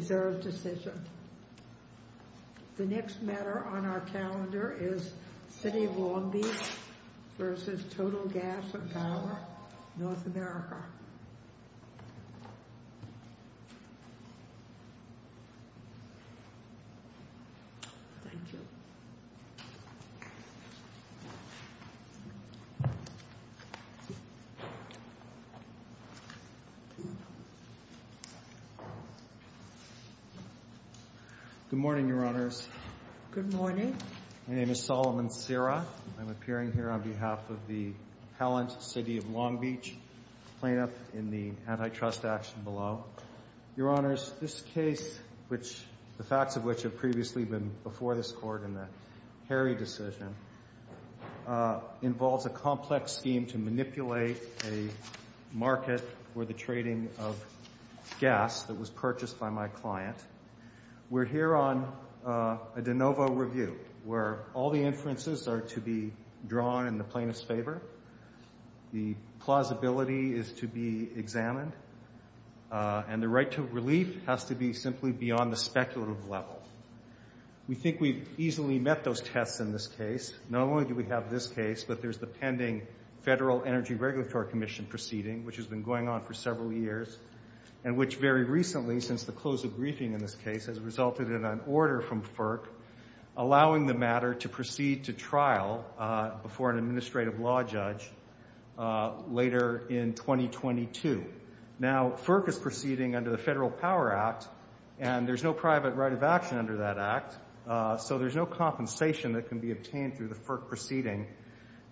The next matter on our calendar is City of Long Beach v. Total Gas & Power, North America. Good morning, Your Honors. Good morning. My name is Solomon Serra. I'm appearing here on behalf of the Palant City of Long Beach plaintiff in the antitrust action below. Your Honors, this case, the facts of which have previously been before this Court in the Harry decision, involves a complex scheme to manipulate a market for the trading of gas that was purchased by my client. We're here on a de novo review where all the inferences are to be drawn in the plaintiff's favor, the plausibility is to be examined, and the right to relief has to be simply beyond the speculative level. We think we've easily met those tests in this case. Not only do we have this case, but there's the pending Federal Energy Regulatory Commission proceeding, which has been going on for several years, and which very recently, since the close of briefing in this case, has resulted in an order from FERC allowing the matter to proceed to trial before an administrative law judge later in 2022. Now, FERC is proceeding under the Federal Power Act, and there's no private right of action under that act, so there's no compensation that can be obtained through the FERC proceeding.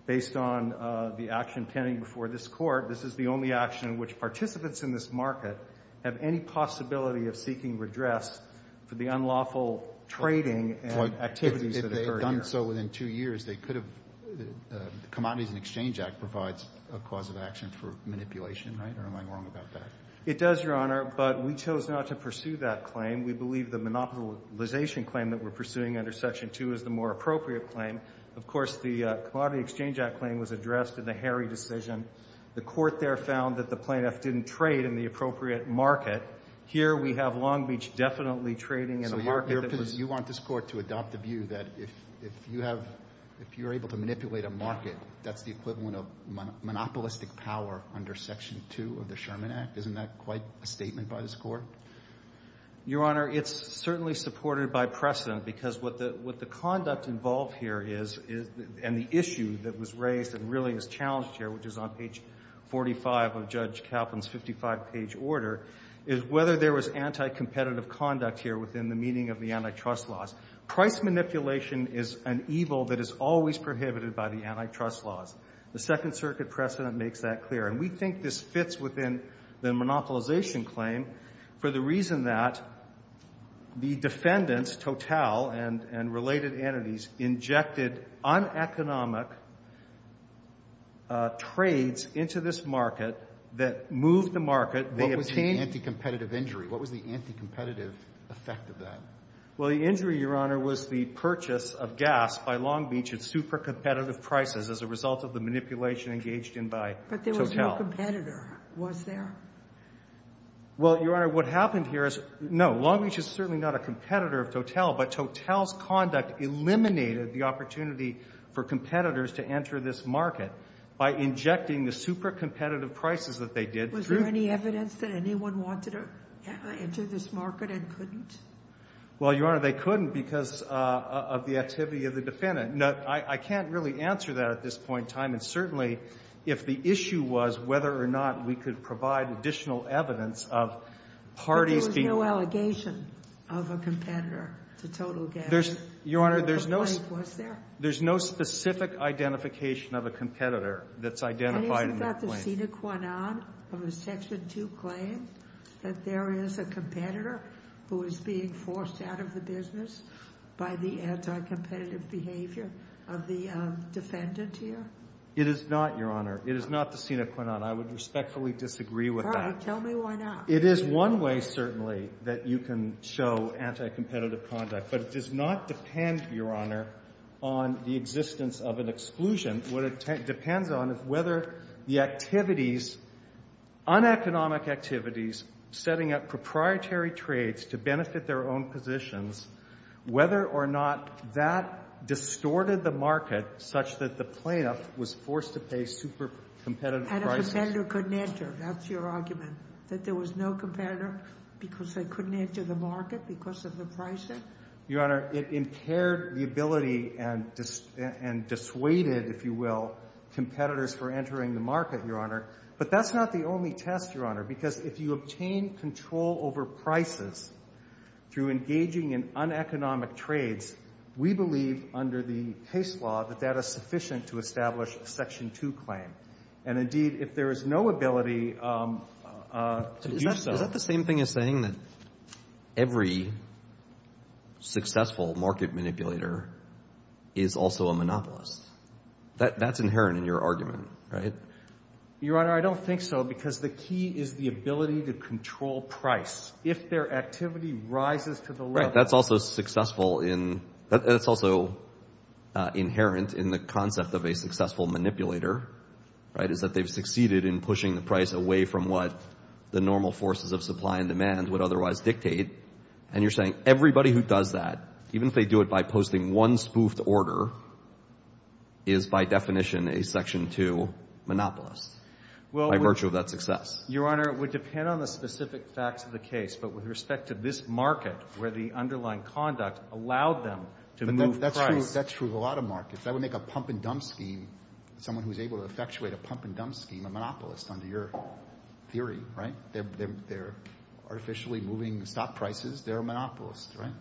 Based on the action pending before this Court, this is the only action in which participants in this market have any possibility of seeking redress for the unlawful trading and activities that occurred here. So within two years, they could have – the Commodities and Exchange Act provides a cause of action for manipulation, right, or am I wrong about that? It does, Your Honor, but we chose not to pursue that claim. We believe the monopolization claim that we're pursuing under Section 2 is the more appropriate claim. Of course, the Commodities and Exchange Act claim was addressed in the Harry decision. The Court there found that the plaintiff didn't trade in the appropriate market. Here we have Long Beach definitely trading in a market that was – if you have – if you're able to manipulate a market, that's the equivalent of monopolistic power under Section 2 of the Sherman Act. Isn't that quite a statement by this Court? Your Honor, it's certainly supported by precedent because what the conduct involved here is and the issue that was raised and really is challenged here, which is on page 45 of Judge Kaplan's 55-page order, is whether there was anti-competitive conduct here within the meaning of the antitrust laws. Price manipulation is an evil that is always prohibited by the antitrust laws. The Second Circuit precedent makes that clear. And we think this fits within the monopolization claim for the reason that the defendants, Total and related entities, injected uneconomic trades into this market that moved the market. They obtained – What was the anti-competitive injury? What was the anti-competitive effect of that? Well, the injury, Your Honor, was the purchase of gas by Long Beach at super-competitive prices as a result of the manipulation engaged in by Total. But there was no competitor, was there? Well, Your Honor, what happened here is – no, Long Beach is certainly not a competitor of Total, but Total's conduct eliminated the opportunity for competitors to enter this market by injecting the super-competitive prices that they did through – Was there any evidence that anyone wanted to enter this market and couldn't? Well, Your Honor, they couldn't because of the activity of the defendant. Now, I can't really answer that at this point in time. And certainly, if the issue was whether or not we could provide additional evidence of parties being – But there was no allegation of a competitor to Total Gas? There's – Your Honor, there's no – Was there? There's no specific identification of a competitor that's identified in that claim. Is there anything about the sine qua non of a Section 2 claim that there is a competitor who is being forced out of the business by the anti-competitive behavior of the defendant here? It is not, Your Honor. It is not the sine qua non. I would respectfully disagree with that. All right. Tell me why not. It is one way, certainly, that you can show anti-competitive conduct, but it does not depend, Your Honor, on the existence of an exclusion. What it depends on is whether the activities, uneconomic activities, setting up proprietary trades to benefit their own positions, whether or not that distorted the market such that the plaintiff was forced to pay super-competitive prices. And a competitor couldn't enter. That's your argument, that there was no competitor because they couldn't enter the market because of the pricing? Your Honor, it impaired the ability and dissuaded, if you will, competitors for entering the market, Your Honor. But that's not the only test, Your Honor, because if you obtain control over prices through engaging in uneconomic trades, we believe under the case law that that is sufficient to establish a Section 2 claim. And, indeed, if there is no ability to do so. Is that the same thing as saying that every successful market manipulator is also a monopolist? That's inherent in your argument, right? Your Honor, I don't think so because the key is the ability to control price. If their activity rises to the level. That's also successful in — that's also inherent in the concept of a successful manipulator, right, is that they've succeeded in pushing the price away from what the normal forces of supply and demand would otherwise dictate. And you're saying everybody who does that, even if they do it by posting one spoofed order, is by definition a Section 2 monopolist by virtue of that success. Your Honor, it would depend on the specific facts of the case. But with respect to this market where the underlying conduct allowed them to move price. But that's true of a lot of markets. That would make a pump-and-dump scheme, someone who's able to effectuate a pump-and-dump scheme, a monopolist under your theory, right? They're artificially moving stock prices. They're a monopolist, right?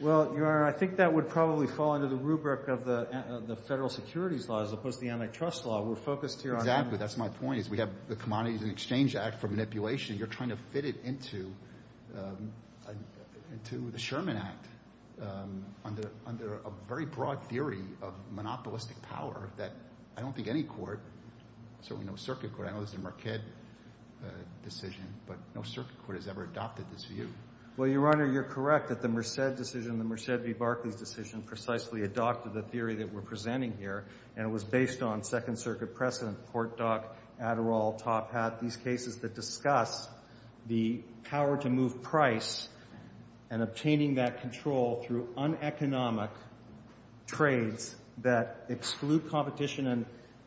Well, Your Honor, I think that would probably fall under the rubric of the federal securities law as opposed to the antitrust law. We're focused here on — Exactly. That's my point is we have the Commodities and Exchange Act for manipulation. You're trying to fit it into the Sherman Act under a very broad theory of monopolistic power that I don't think any court, certainly no circuit court — I know this is a Marquette decision, but no circuit court has ever adopted this view. Well, Your Honor, you're correct that the Merced decision, the Merced v. Barclays decision precisely adopted the theory that we're presenting here. And it was based on Second Circuit precedent, Portdoc, Adderall, Top Hat, these cases that discuss the power to move price and obtaining that control through uneconomic trades that exclude competition. And,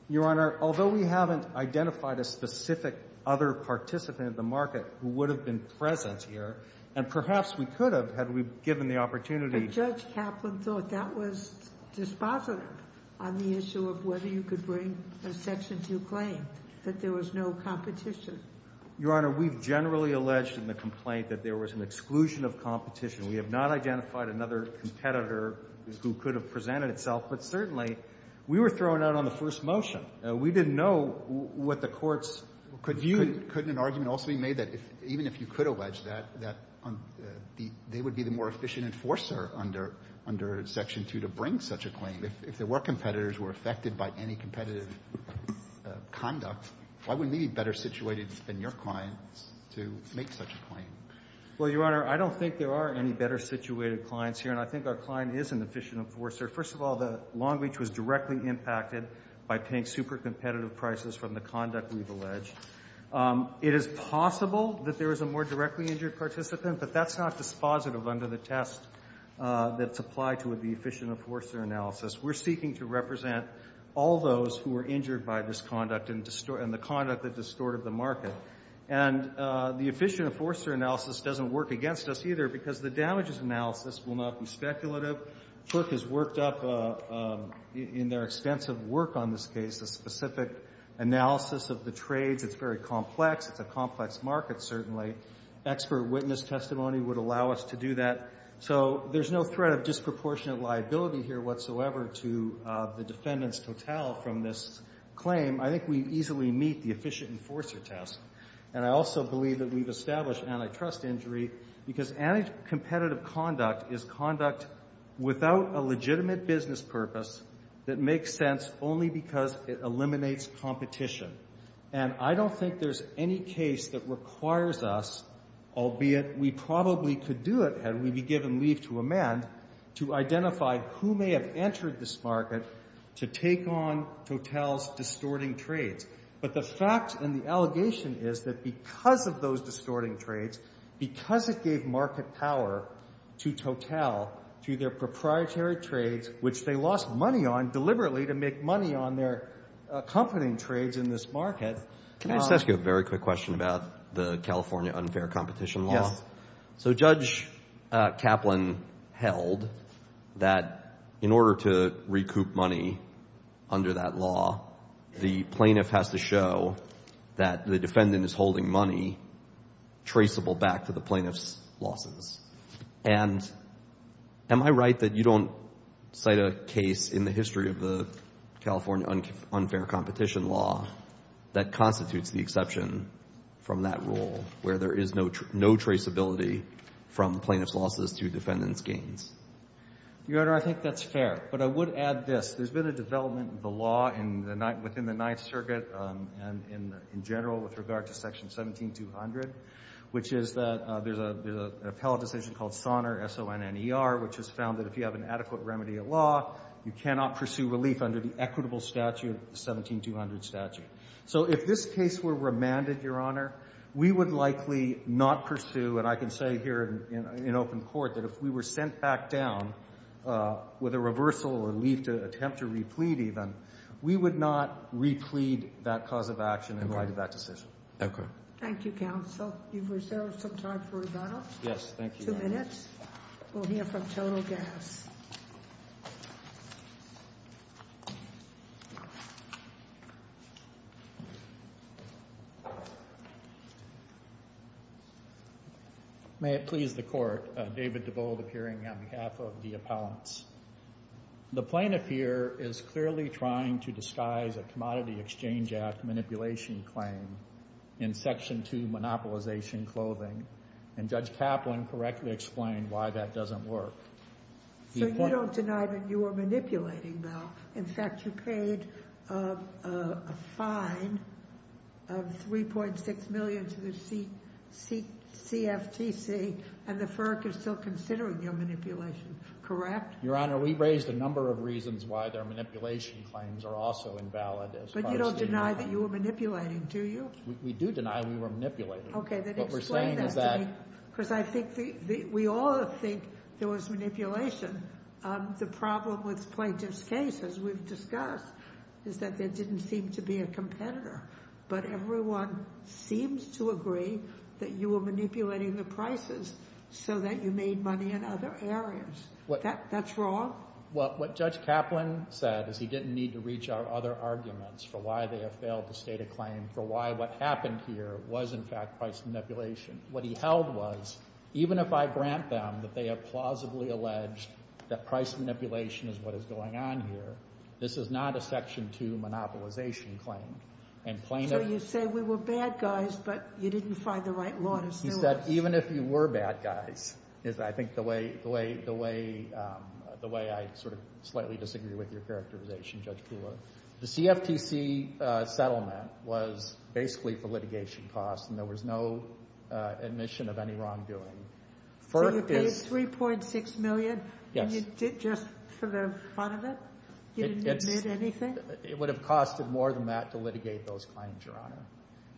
Your Honor, although we haven't identified a specific other participant in the market who would have been present here, and perhaps we could have had we given the opportunity — But Judge Kaplan thought that was dispositive on the issue of whether you could bring a Your Honor, we've generally alleged in the complaint that there was an exclusion of competition. We have not identified another competitor who could have presented itself, but certainly we were thrown out on the first motion. We didn't know what the courts could view. Couldn't an argument also be made that even if you could allege that, that they would be the more efficient enforcer under Section 2 to bring such a claim? If there were competitors who were affected by any competitive conduct, why would we need better situated than your clients to make such a claim? Well, Your Honor, I don't think there are any better situated clients here, and I think our client is an efficient enforcer. First of all, the Long Beach was directly impacted by paying super competitive prices from the conduct we've alleged. It is possible that there is a more directly injured participant, but that's not dispositive under the test that's applied to the efficient enforcer analysis. We're seeking to represent all those who were injured by this conduct and the conduct that distorted the market. And the efficient enforcer analysis doesn't work against us either because the damages analysis will not be speculative. Cook has worked up in their extensive work on this case a specific analysis of the trades. It's very complex. It's a complex market, certainly. Expert witness testimony would allow us to do that. So there's no threat of disproportionate liability here whatsoever to the defendant's total from this claim. I think we easily meet the efficient enforcer test. And I also believe that we've established antitrust injury because anticompetitive conduct is conduct without a legitimate business purpose that makes sense only because it eliminates competition. And I don't think there's any case that requires us, albeit we probably could do it had we be given leave to amend, to identify who may have entered this market to take on Total's distorting trades. But the fact and the allegation is that because of those distorting trades, because it gave market power to Total, to their proprietary trades, which they lost money on Can I just ask you a very quick question about the California unfair competition law? Yes. So Judge Kaplan held that in order to recoup money under that law, the plaintiff has to show that the defendant is holding money traceable back to the plaintiff's losses. And am I right that you don't cite a case in the history of the California unfair competition law that constitutes the exception from that rule where there is no traceability from plaintiff's losses to defendant's gains? Your Honor, I think that's fair. But I would add this. There's been a development in the law within the Ninth Circuit and in general with regard to Section 17200, which is that there's an appellate decision called Sonner, S-O-N-N-E-R, which has found that if you have an adequate remedy of law, you cannot pursue relief under the equitable statute of the 17200 statute. So if this case were remanded, Your Honor, we would likely not pursue, and I can say here in open court that if we were sent back down with a reversal or leave to attempt to replete even, we would not replete that cause of action in light of that decision. Okay. Thank you, Counsel. You've reserved some time for rebuttal. Yes, thank you. Two minutes. We'll hear from Total Gas. Please. May it please the Court, David DeBold appearing on behalf of the appellants. The plaintiff here is clearly trying to disguise a Commodity Exchange Act manipulation claim in Section 2, Monopolization Clothing, and Judge Kaplan correctly explained why that doesn't work. So you don't deny that you were manipulating, though. In fact, you paid a fine of $3.6 million to the CFTC, and the FERC is still considering your manipulation, correct? Your Honor, we raised a number of reasons why their manipulation claims are also invalid as far as we know. But you don't deny that you were manipulating, do you? We do deny we were manipulating. Okay, then explain that to me. Because I think we all think there was manipulation. The problem with the plaintiff's case, as we've discussed, is that there didn't seem to be a competitor. But everyone seems to agree that you were manipulating the prices so that you made money in other areas. That's wrong? Well, what Judge Kaplan said is he didn't need to reach out other arguments for why they have failed to state a claim, for why what happened here was, in fact, price manipulation. What he held was, even if I grant them that they have plausibly alleged that price manipulation is what is going on here, this is not a Section 2 monopolization claim. So you say we were bad guys, but you didn't find the right law to sue us. He said, even if you were bad guys, is I think the way I sort of slightly disagree with your characterization, Judge Kula. The CFTC settlement was basically for litigation costs, and there was no admission of any wrongdoing. So you paid $3.6 million? Yes. And you did just for the fun of it? You didn't admit anything? It would have costed more than that to litigate those claims, Your Honor.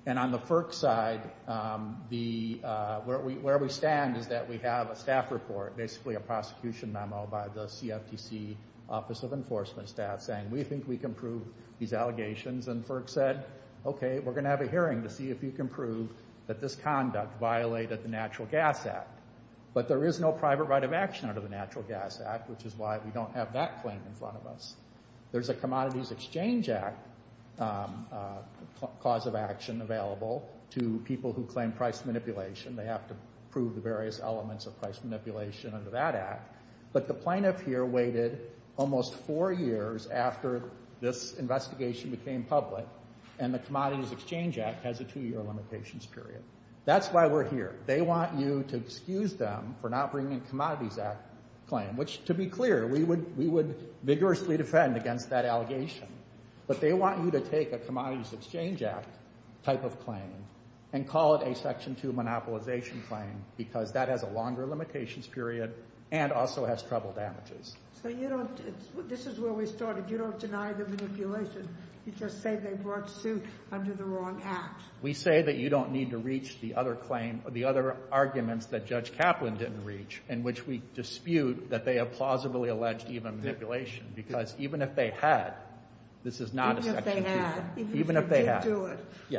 And on the FERC side, where we stand is that we have a staff report, basically a prosecution memo by the CFTC Office of Enforcement Staff saying, we think we can prove these allegations. And FERC said, okay, we're going to have a hearing to see if you can prove that this conduct violated the Natural Gas Act. But there is no private right of action under the Natural Gas Act, which is why we don't have that claim in front of us. There's a Commodities Exchange Act cause of action available to people who claim price manipulation. They have to prove the various elements of price manipulation under that act. But the plaintiff here waited almost four years after this investigation became public, and the Commodities Exchange Act has a two-year limitations period. That's why we're here. They want you to excuse them for not bringing a Commodities Act claim, which, to be clear, we would vigorously defend against that allegation. But they want you to take a Commodities Exchange Act type of claim and call it a Section 2 monopolization claim because that has a longer limitations period and also has trouble damages. So you don't – this is where we started. You don't deny the manipulation. You just say they brought suit under the wrong act. We say that you don't need to reach the other claim – the other arguments that Judge Kaplan didn't reach, in which we dispute that they have plausibly alleged even manipulation because even if they had, this is not a Section 2. Even if they had. Even if they had. Even if they did do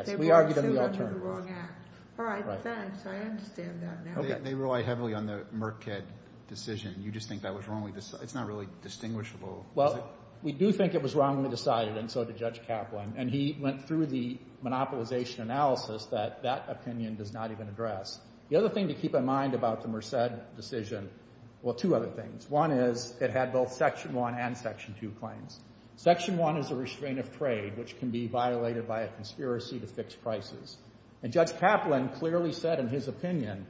it, they brought suit under the wrong act. All right. Thanks. I understand that now. They rely heavily on the Merced decision. You just think that was wrongly – it's not really distinguishable. Well, we do think it was wrongly decided, and so did Judge Kaplan. And he went through the monopolization analysis that that opinion does not even address. The other thing to keep in mind about the Merced decision – well, two other things. One is it had both Section 1 and Section 2 claims. Section 1 is a restraint of trade, which can be violated by a conspiracy to fix prices. And Judge Kaplan clearly said in his opinion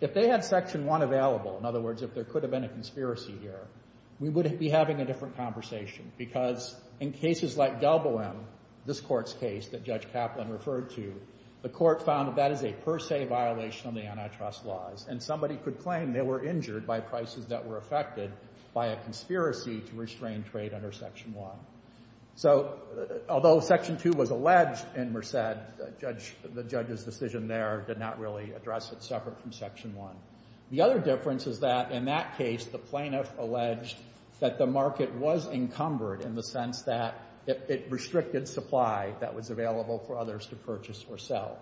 if they had Section 1 available – in other words, if there could have been a conspiracy here – we would be having a different conversation because in cases like Galboam, this Court's case that Judge Kaplan referred to, the Court found that that is a per se violation of the antitrust laws, and somebody could claim they were injured by prices that were affected by a conspiracy to restrain trade under Section 1. So although Section 2 was alleged in Merced, the judge's decision there did not really address it separate from Section 1. The other difference is that in that case, the plaintiff alleged that the market was encumbered in the sense that it restricted supply that was available for others to purchase or sell.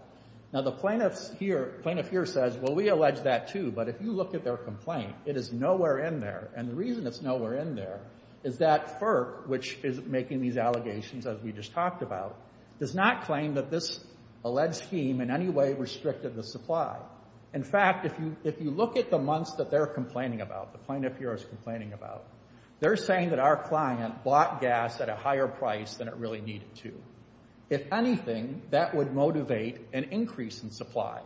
Now, the plaintiff here says, well, we allege that too, but if you look at their complaint, it is nowhere in there. And the reason it's nowhere in there is that FERC, which is making these allegations as we just talked about, does not claim that this alleged scheme in any way restricted the supply. In fact, if you look at the months that they're complaining about, the plaintiff here is complaining about, they're saying that our client bought gas at a higher price than it really needed to. If anything, that would motivate an increase in supply.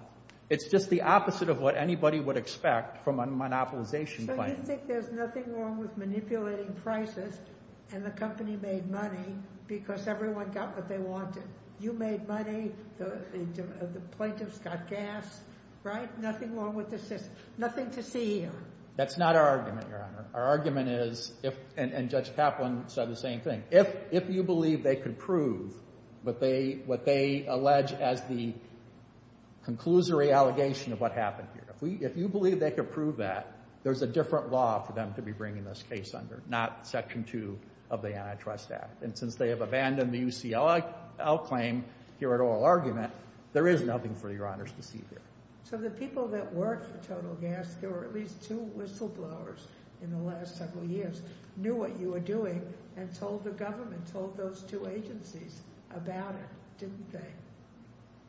It's just the opposite of what anybody would expect from a monopolization claim. I think there's nothing wrong with manipulating prices and the company made money because everyone got what they wanted. You made money. The plaintiffs got gas. Right? Nothing wrong with the system. Nothing to see here. That's not our argument, Your Honor. Our argument is, and Judge Kaplan said the same thing, if you believe they could prove what they allege as the conclusory allegation of what happened here, if you believe they could prove that, there's a different law for them to be bringing this case under, not Section 2 of the Antitrust Act. And since they have abandoned the UCLL claim here at oral argument, there is nothing for Your Honors to see here. So the people that worked for Total Gas, there were at least two whistleblowers in the last several years, knew what you were doing and told the government, told those two agencies about it, didn't they?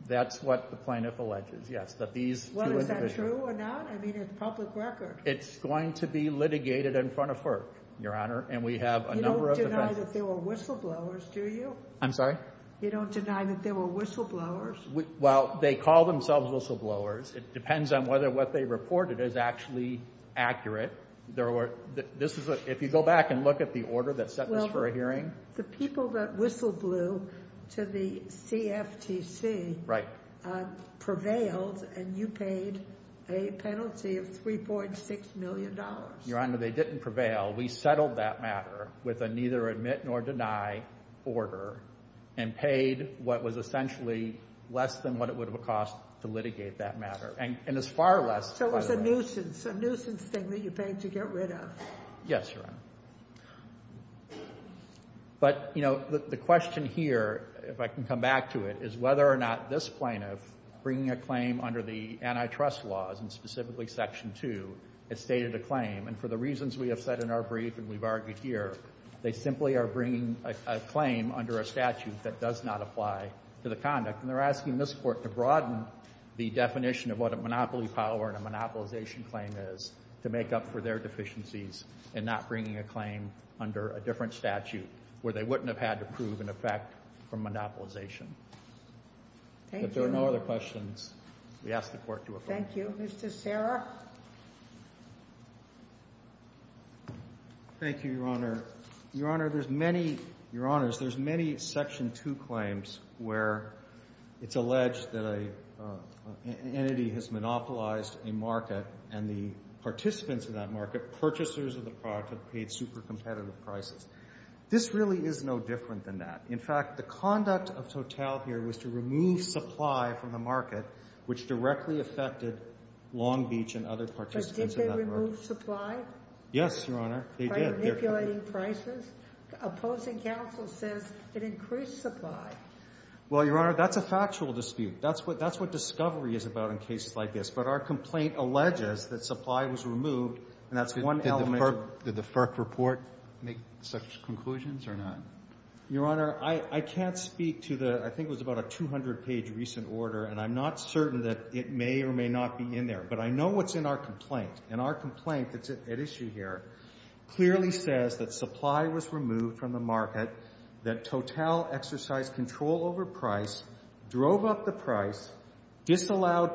That's what the plaintiff alleges, yes. Well, is that true or not? I mean, it's public record. It's going to be litigated in front of FERC, Your Honor, and we have a number of defendants. You don't deny that there were whistleblowers, do you? I'm sorry? You don't deny that there were whistleblowers? Well, they call themselves whistleblowers. It depends on whether what they reported is actually accurate. If you go back and look at the order that set this for a hearing. The people that whistleblew to the CFTC prevailed and you paid a penalty of $3.6 million. Your Honor, they didn't prevail. We settled that matter with a neither admit nor deny order and paid what was essentially less than what it would have cost to litigate that matter. And it's far less, by the way. So it was a nuisance, a nuisance thing that you paid to get rid of. Yes, Your Honor. But, you know, the question here, if I can come back to it, is whether or not this plaintiff bringing a claim under the antitrust laws and specifically Section 2 has stated a claim. And for the reasons we have said in our brief and we've argued here, they simply are bringing a claim under a statute that does not apply to the conduct. And they're asking this Court to broaden the definition of what a monopoly power and a monopolization claim is to make up for their deficiencies and not bringing a claim under a different statute where they wouldn't have had to prove an effect from monopolization. Thank you. If there are no other questions, we ask the Court to affirm. Thank you. Mr. Serra. Thank you, Your Honor. Your Honor, there's many, Your Honors, there's many Section 2 claims where it's alleged that an entity has monopolized a market and the participants in that market, purchasers of the product, have paid super competitive prices. This really is no different than that. In fact, the conduct of Total here was to remove supply from the market, which directly affected Long Beach and other participants in that market. But did they remove supply? Yes, Your Honor, they did. By manipulating prices? Opposing counsel says it increased supply. Well, Your Honor, that's a factual dispute. That's what discovery is about in cases like this. But our complaint alleges that supply was removed, and that's one element. Did the FERC report make such conclusions or not? Your Honor, I can't speak to the, I think it was about a 200-page recent order, and I'm not certain that it may or may not be in there. But I know what's in our complaint, and our complaint that's at issue here clearly says that supply was removed from the market, that Total exercised control over price, drove up the price, disallowed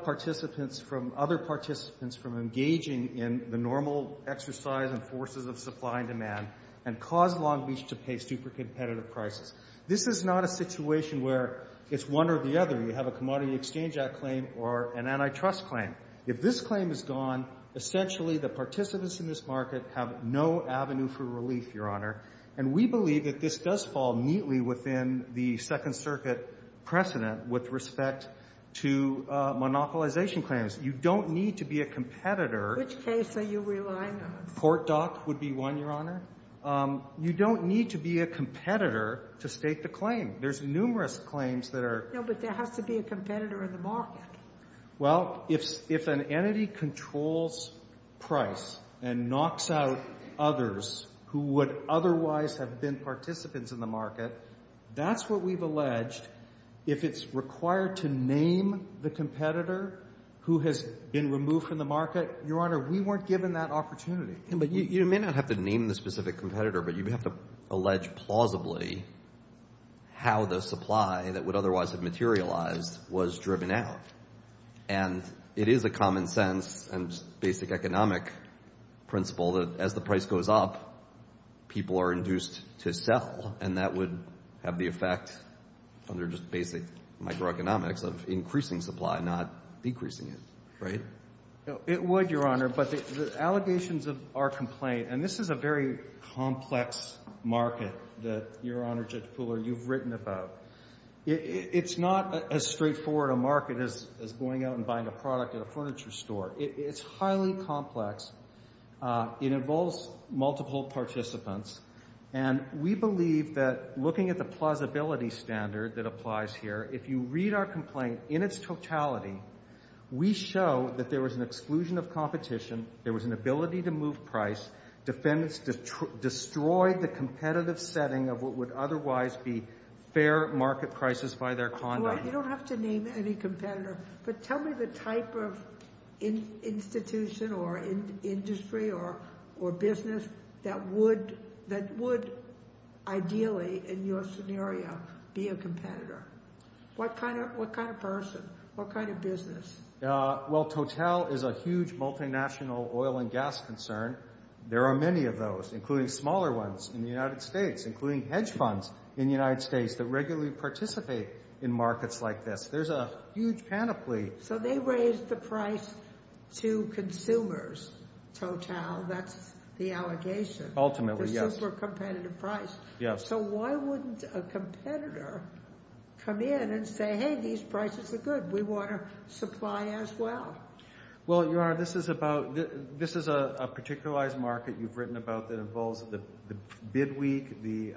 other participants from engaging in the normal exercise and forces of supply and demand, and caused Long Beach to pay super competitive prices. This is not a situation where it's one or the other. You have a Commodity Exchange Act claim or an antitrust claim. If this claim is gone, essentially the participants in this market have no avenue for relief, Your Honor. And we believe that this does fall neatly within the Second Circuit precedent with respect to monopolization claims. You don't need to be a competitor. Which case are you relying on? Port Dock would be one, Your Honor. You don't need to be a competitor to state the claim. There's numerous claims that are — No, but there has to be a competitor in the market. Well, if an entity controls price and knocks out others who would otherwise have been participants in the market, that's what we've alleged. If it's required to name the competitor who has been removed from the market, Your Honor, we weren't given that opportunity. But you may not have to name the specific competitor, but you have to allege plausibly how the supply that would otherwise have materialized was driven out. And it is a common sense and basic economic principle that as the price goes up, people are induced to sell. And that would have the effect, under just basic microeconomics, of increasing supply, not decreasing it. Right? It would, Your Honor. But the allegations of our complaint — and this is a very complex market that, Your Honor, Judge Pooler, you've written about. It's not as straightforward a market as going out and buying a product at a furniture store. It's highly complex. It involves multiple participants. And we believe that looking at the plausibility standard that applies here, if you read our complaint in its totality, we show that there was an exclusion of competition, there was an ability to move price, defendants destroyed the competitive setting of what would otherwise be fair market prices by their conduct. You don't have to name any competitor, but tell me the type of institution or industry or business that would ideally, in your scenario, be a competitor. What kind of person? What kind of business? Well, Total is a huge multinational oil and gas concern. There are many of those, including smaller ones in the United States, including hedge funds in the United States that regularly participate in markets like this. There's a huge panoply. So they raise the price to consumers, Total. That's the allegation. Ultimately, yes. The super competitive price. Yes. So why wouldn't a competitor come in and say, hey, these prices are good, we want to supply as well? Well, Your Honor, this is a particularized market you've written about that involves the bid week, the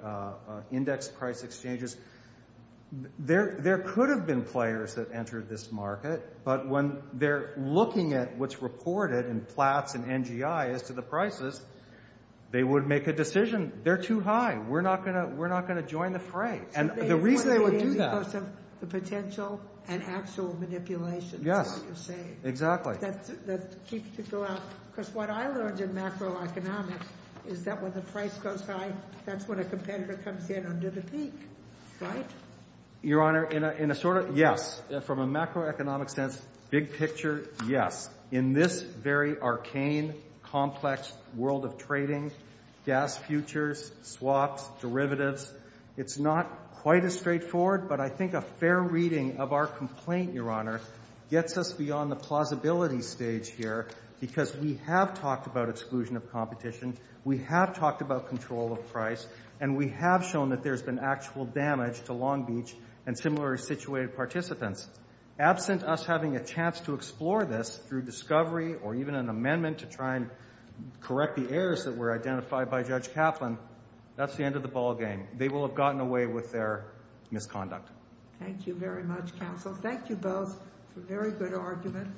index price exchanges. There could have been players that entered this market, but when they're looking at what's reported in Platts and NGI as to the prices, they would make a decision, they're too high, we're not going to join the fray. The reason they would do that. Because of the potential and actual manipulation, is what you're saying. Yes, exactly. That keeps people out. Because what I learned in macroeconomics is that when the price goes high, that's when a competitor comes in under the peak, right? Your Honor, in a sort of, yes. From a macroeconomic sense, big picture, yes. In this very arcane, complex world of trading, gas futures, swaps, derivatives, it's not quite as straightforward, but I think a fair reading of our complaint, Your Honor, gets us beyond the plausibility stage here, because we have talked about exclusion of competition, we have talked about control of price, and we have shown that there's been actual damage to Long Beach and similar situated participants. Absent us having a chance to explore this through discovery or even an amendment to try and correct the errors that were identified by Judge Kaplan, that's the end of the ballgame. They will have gotten away with their misconduct. Thank you very much, counsel. Thank you both for a very good argument.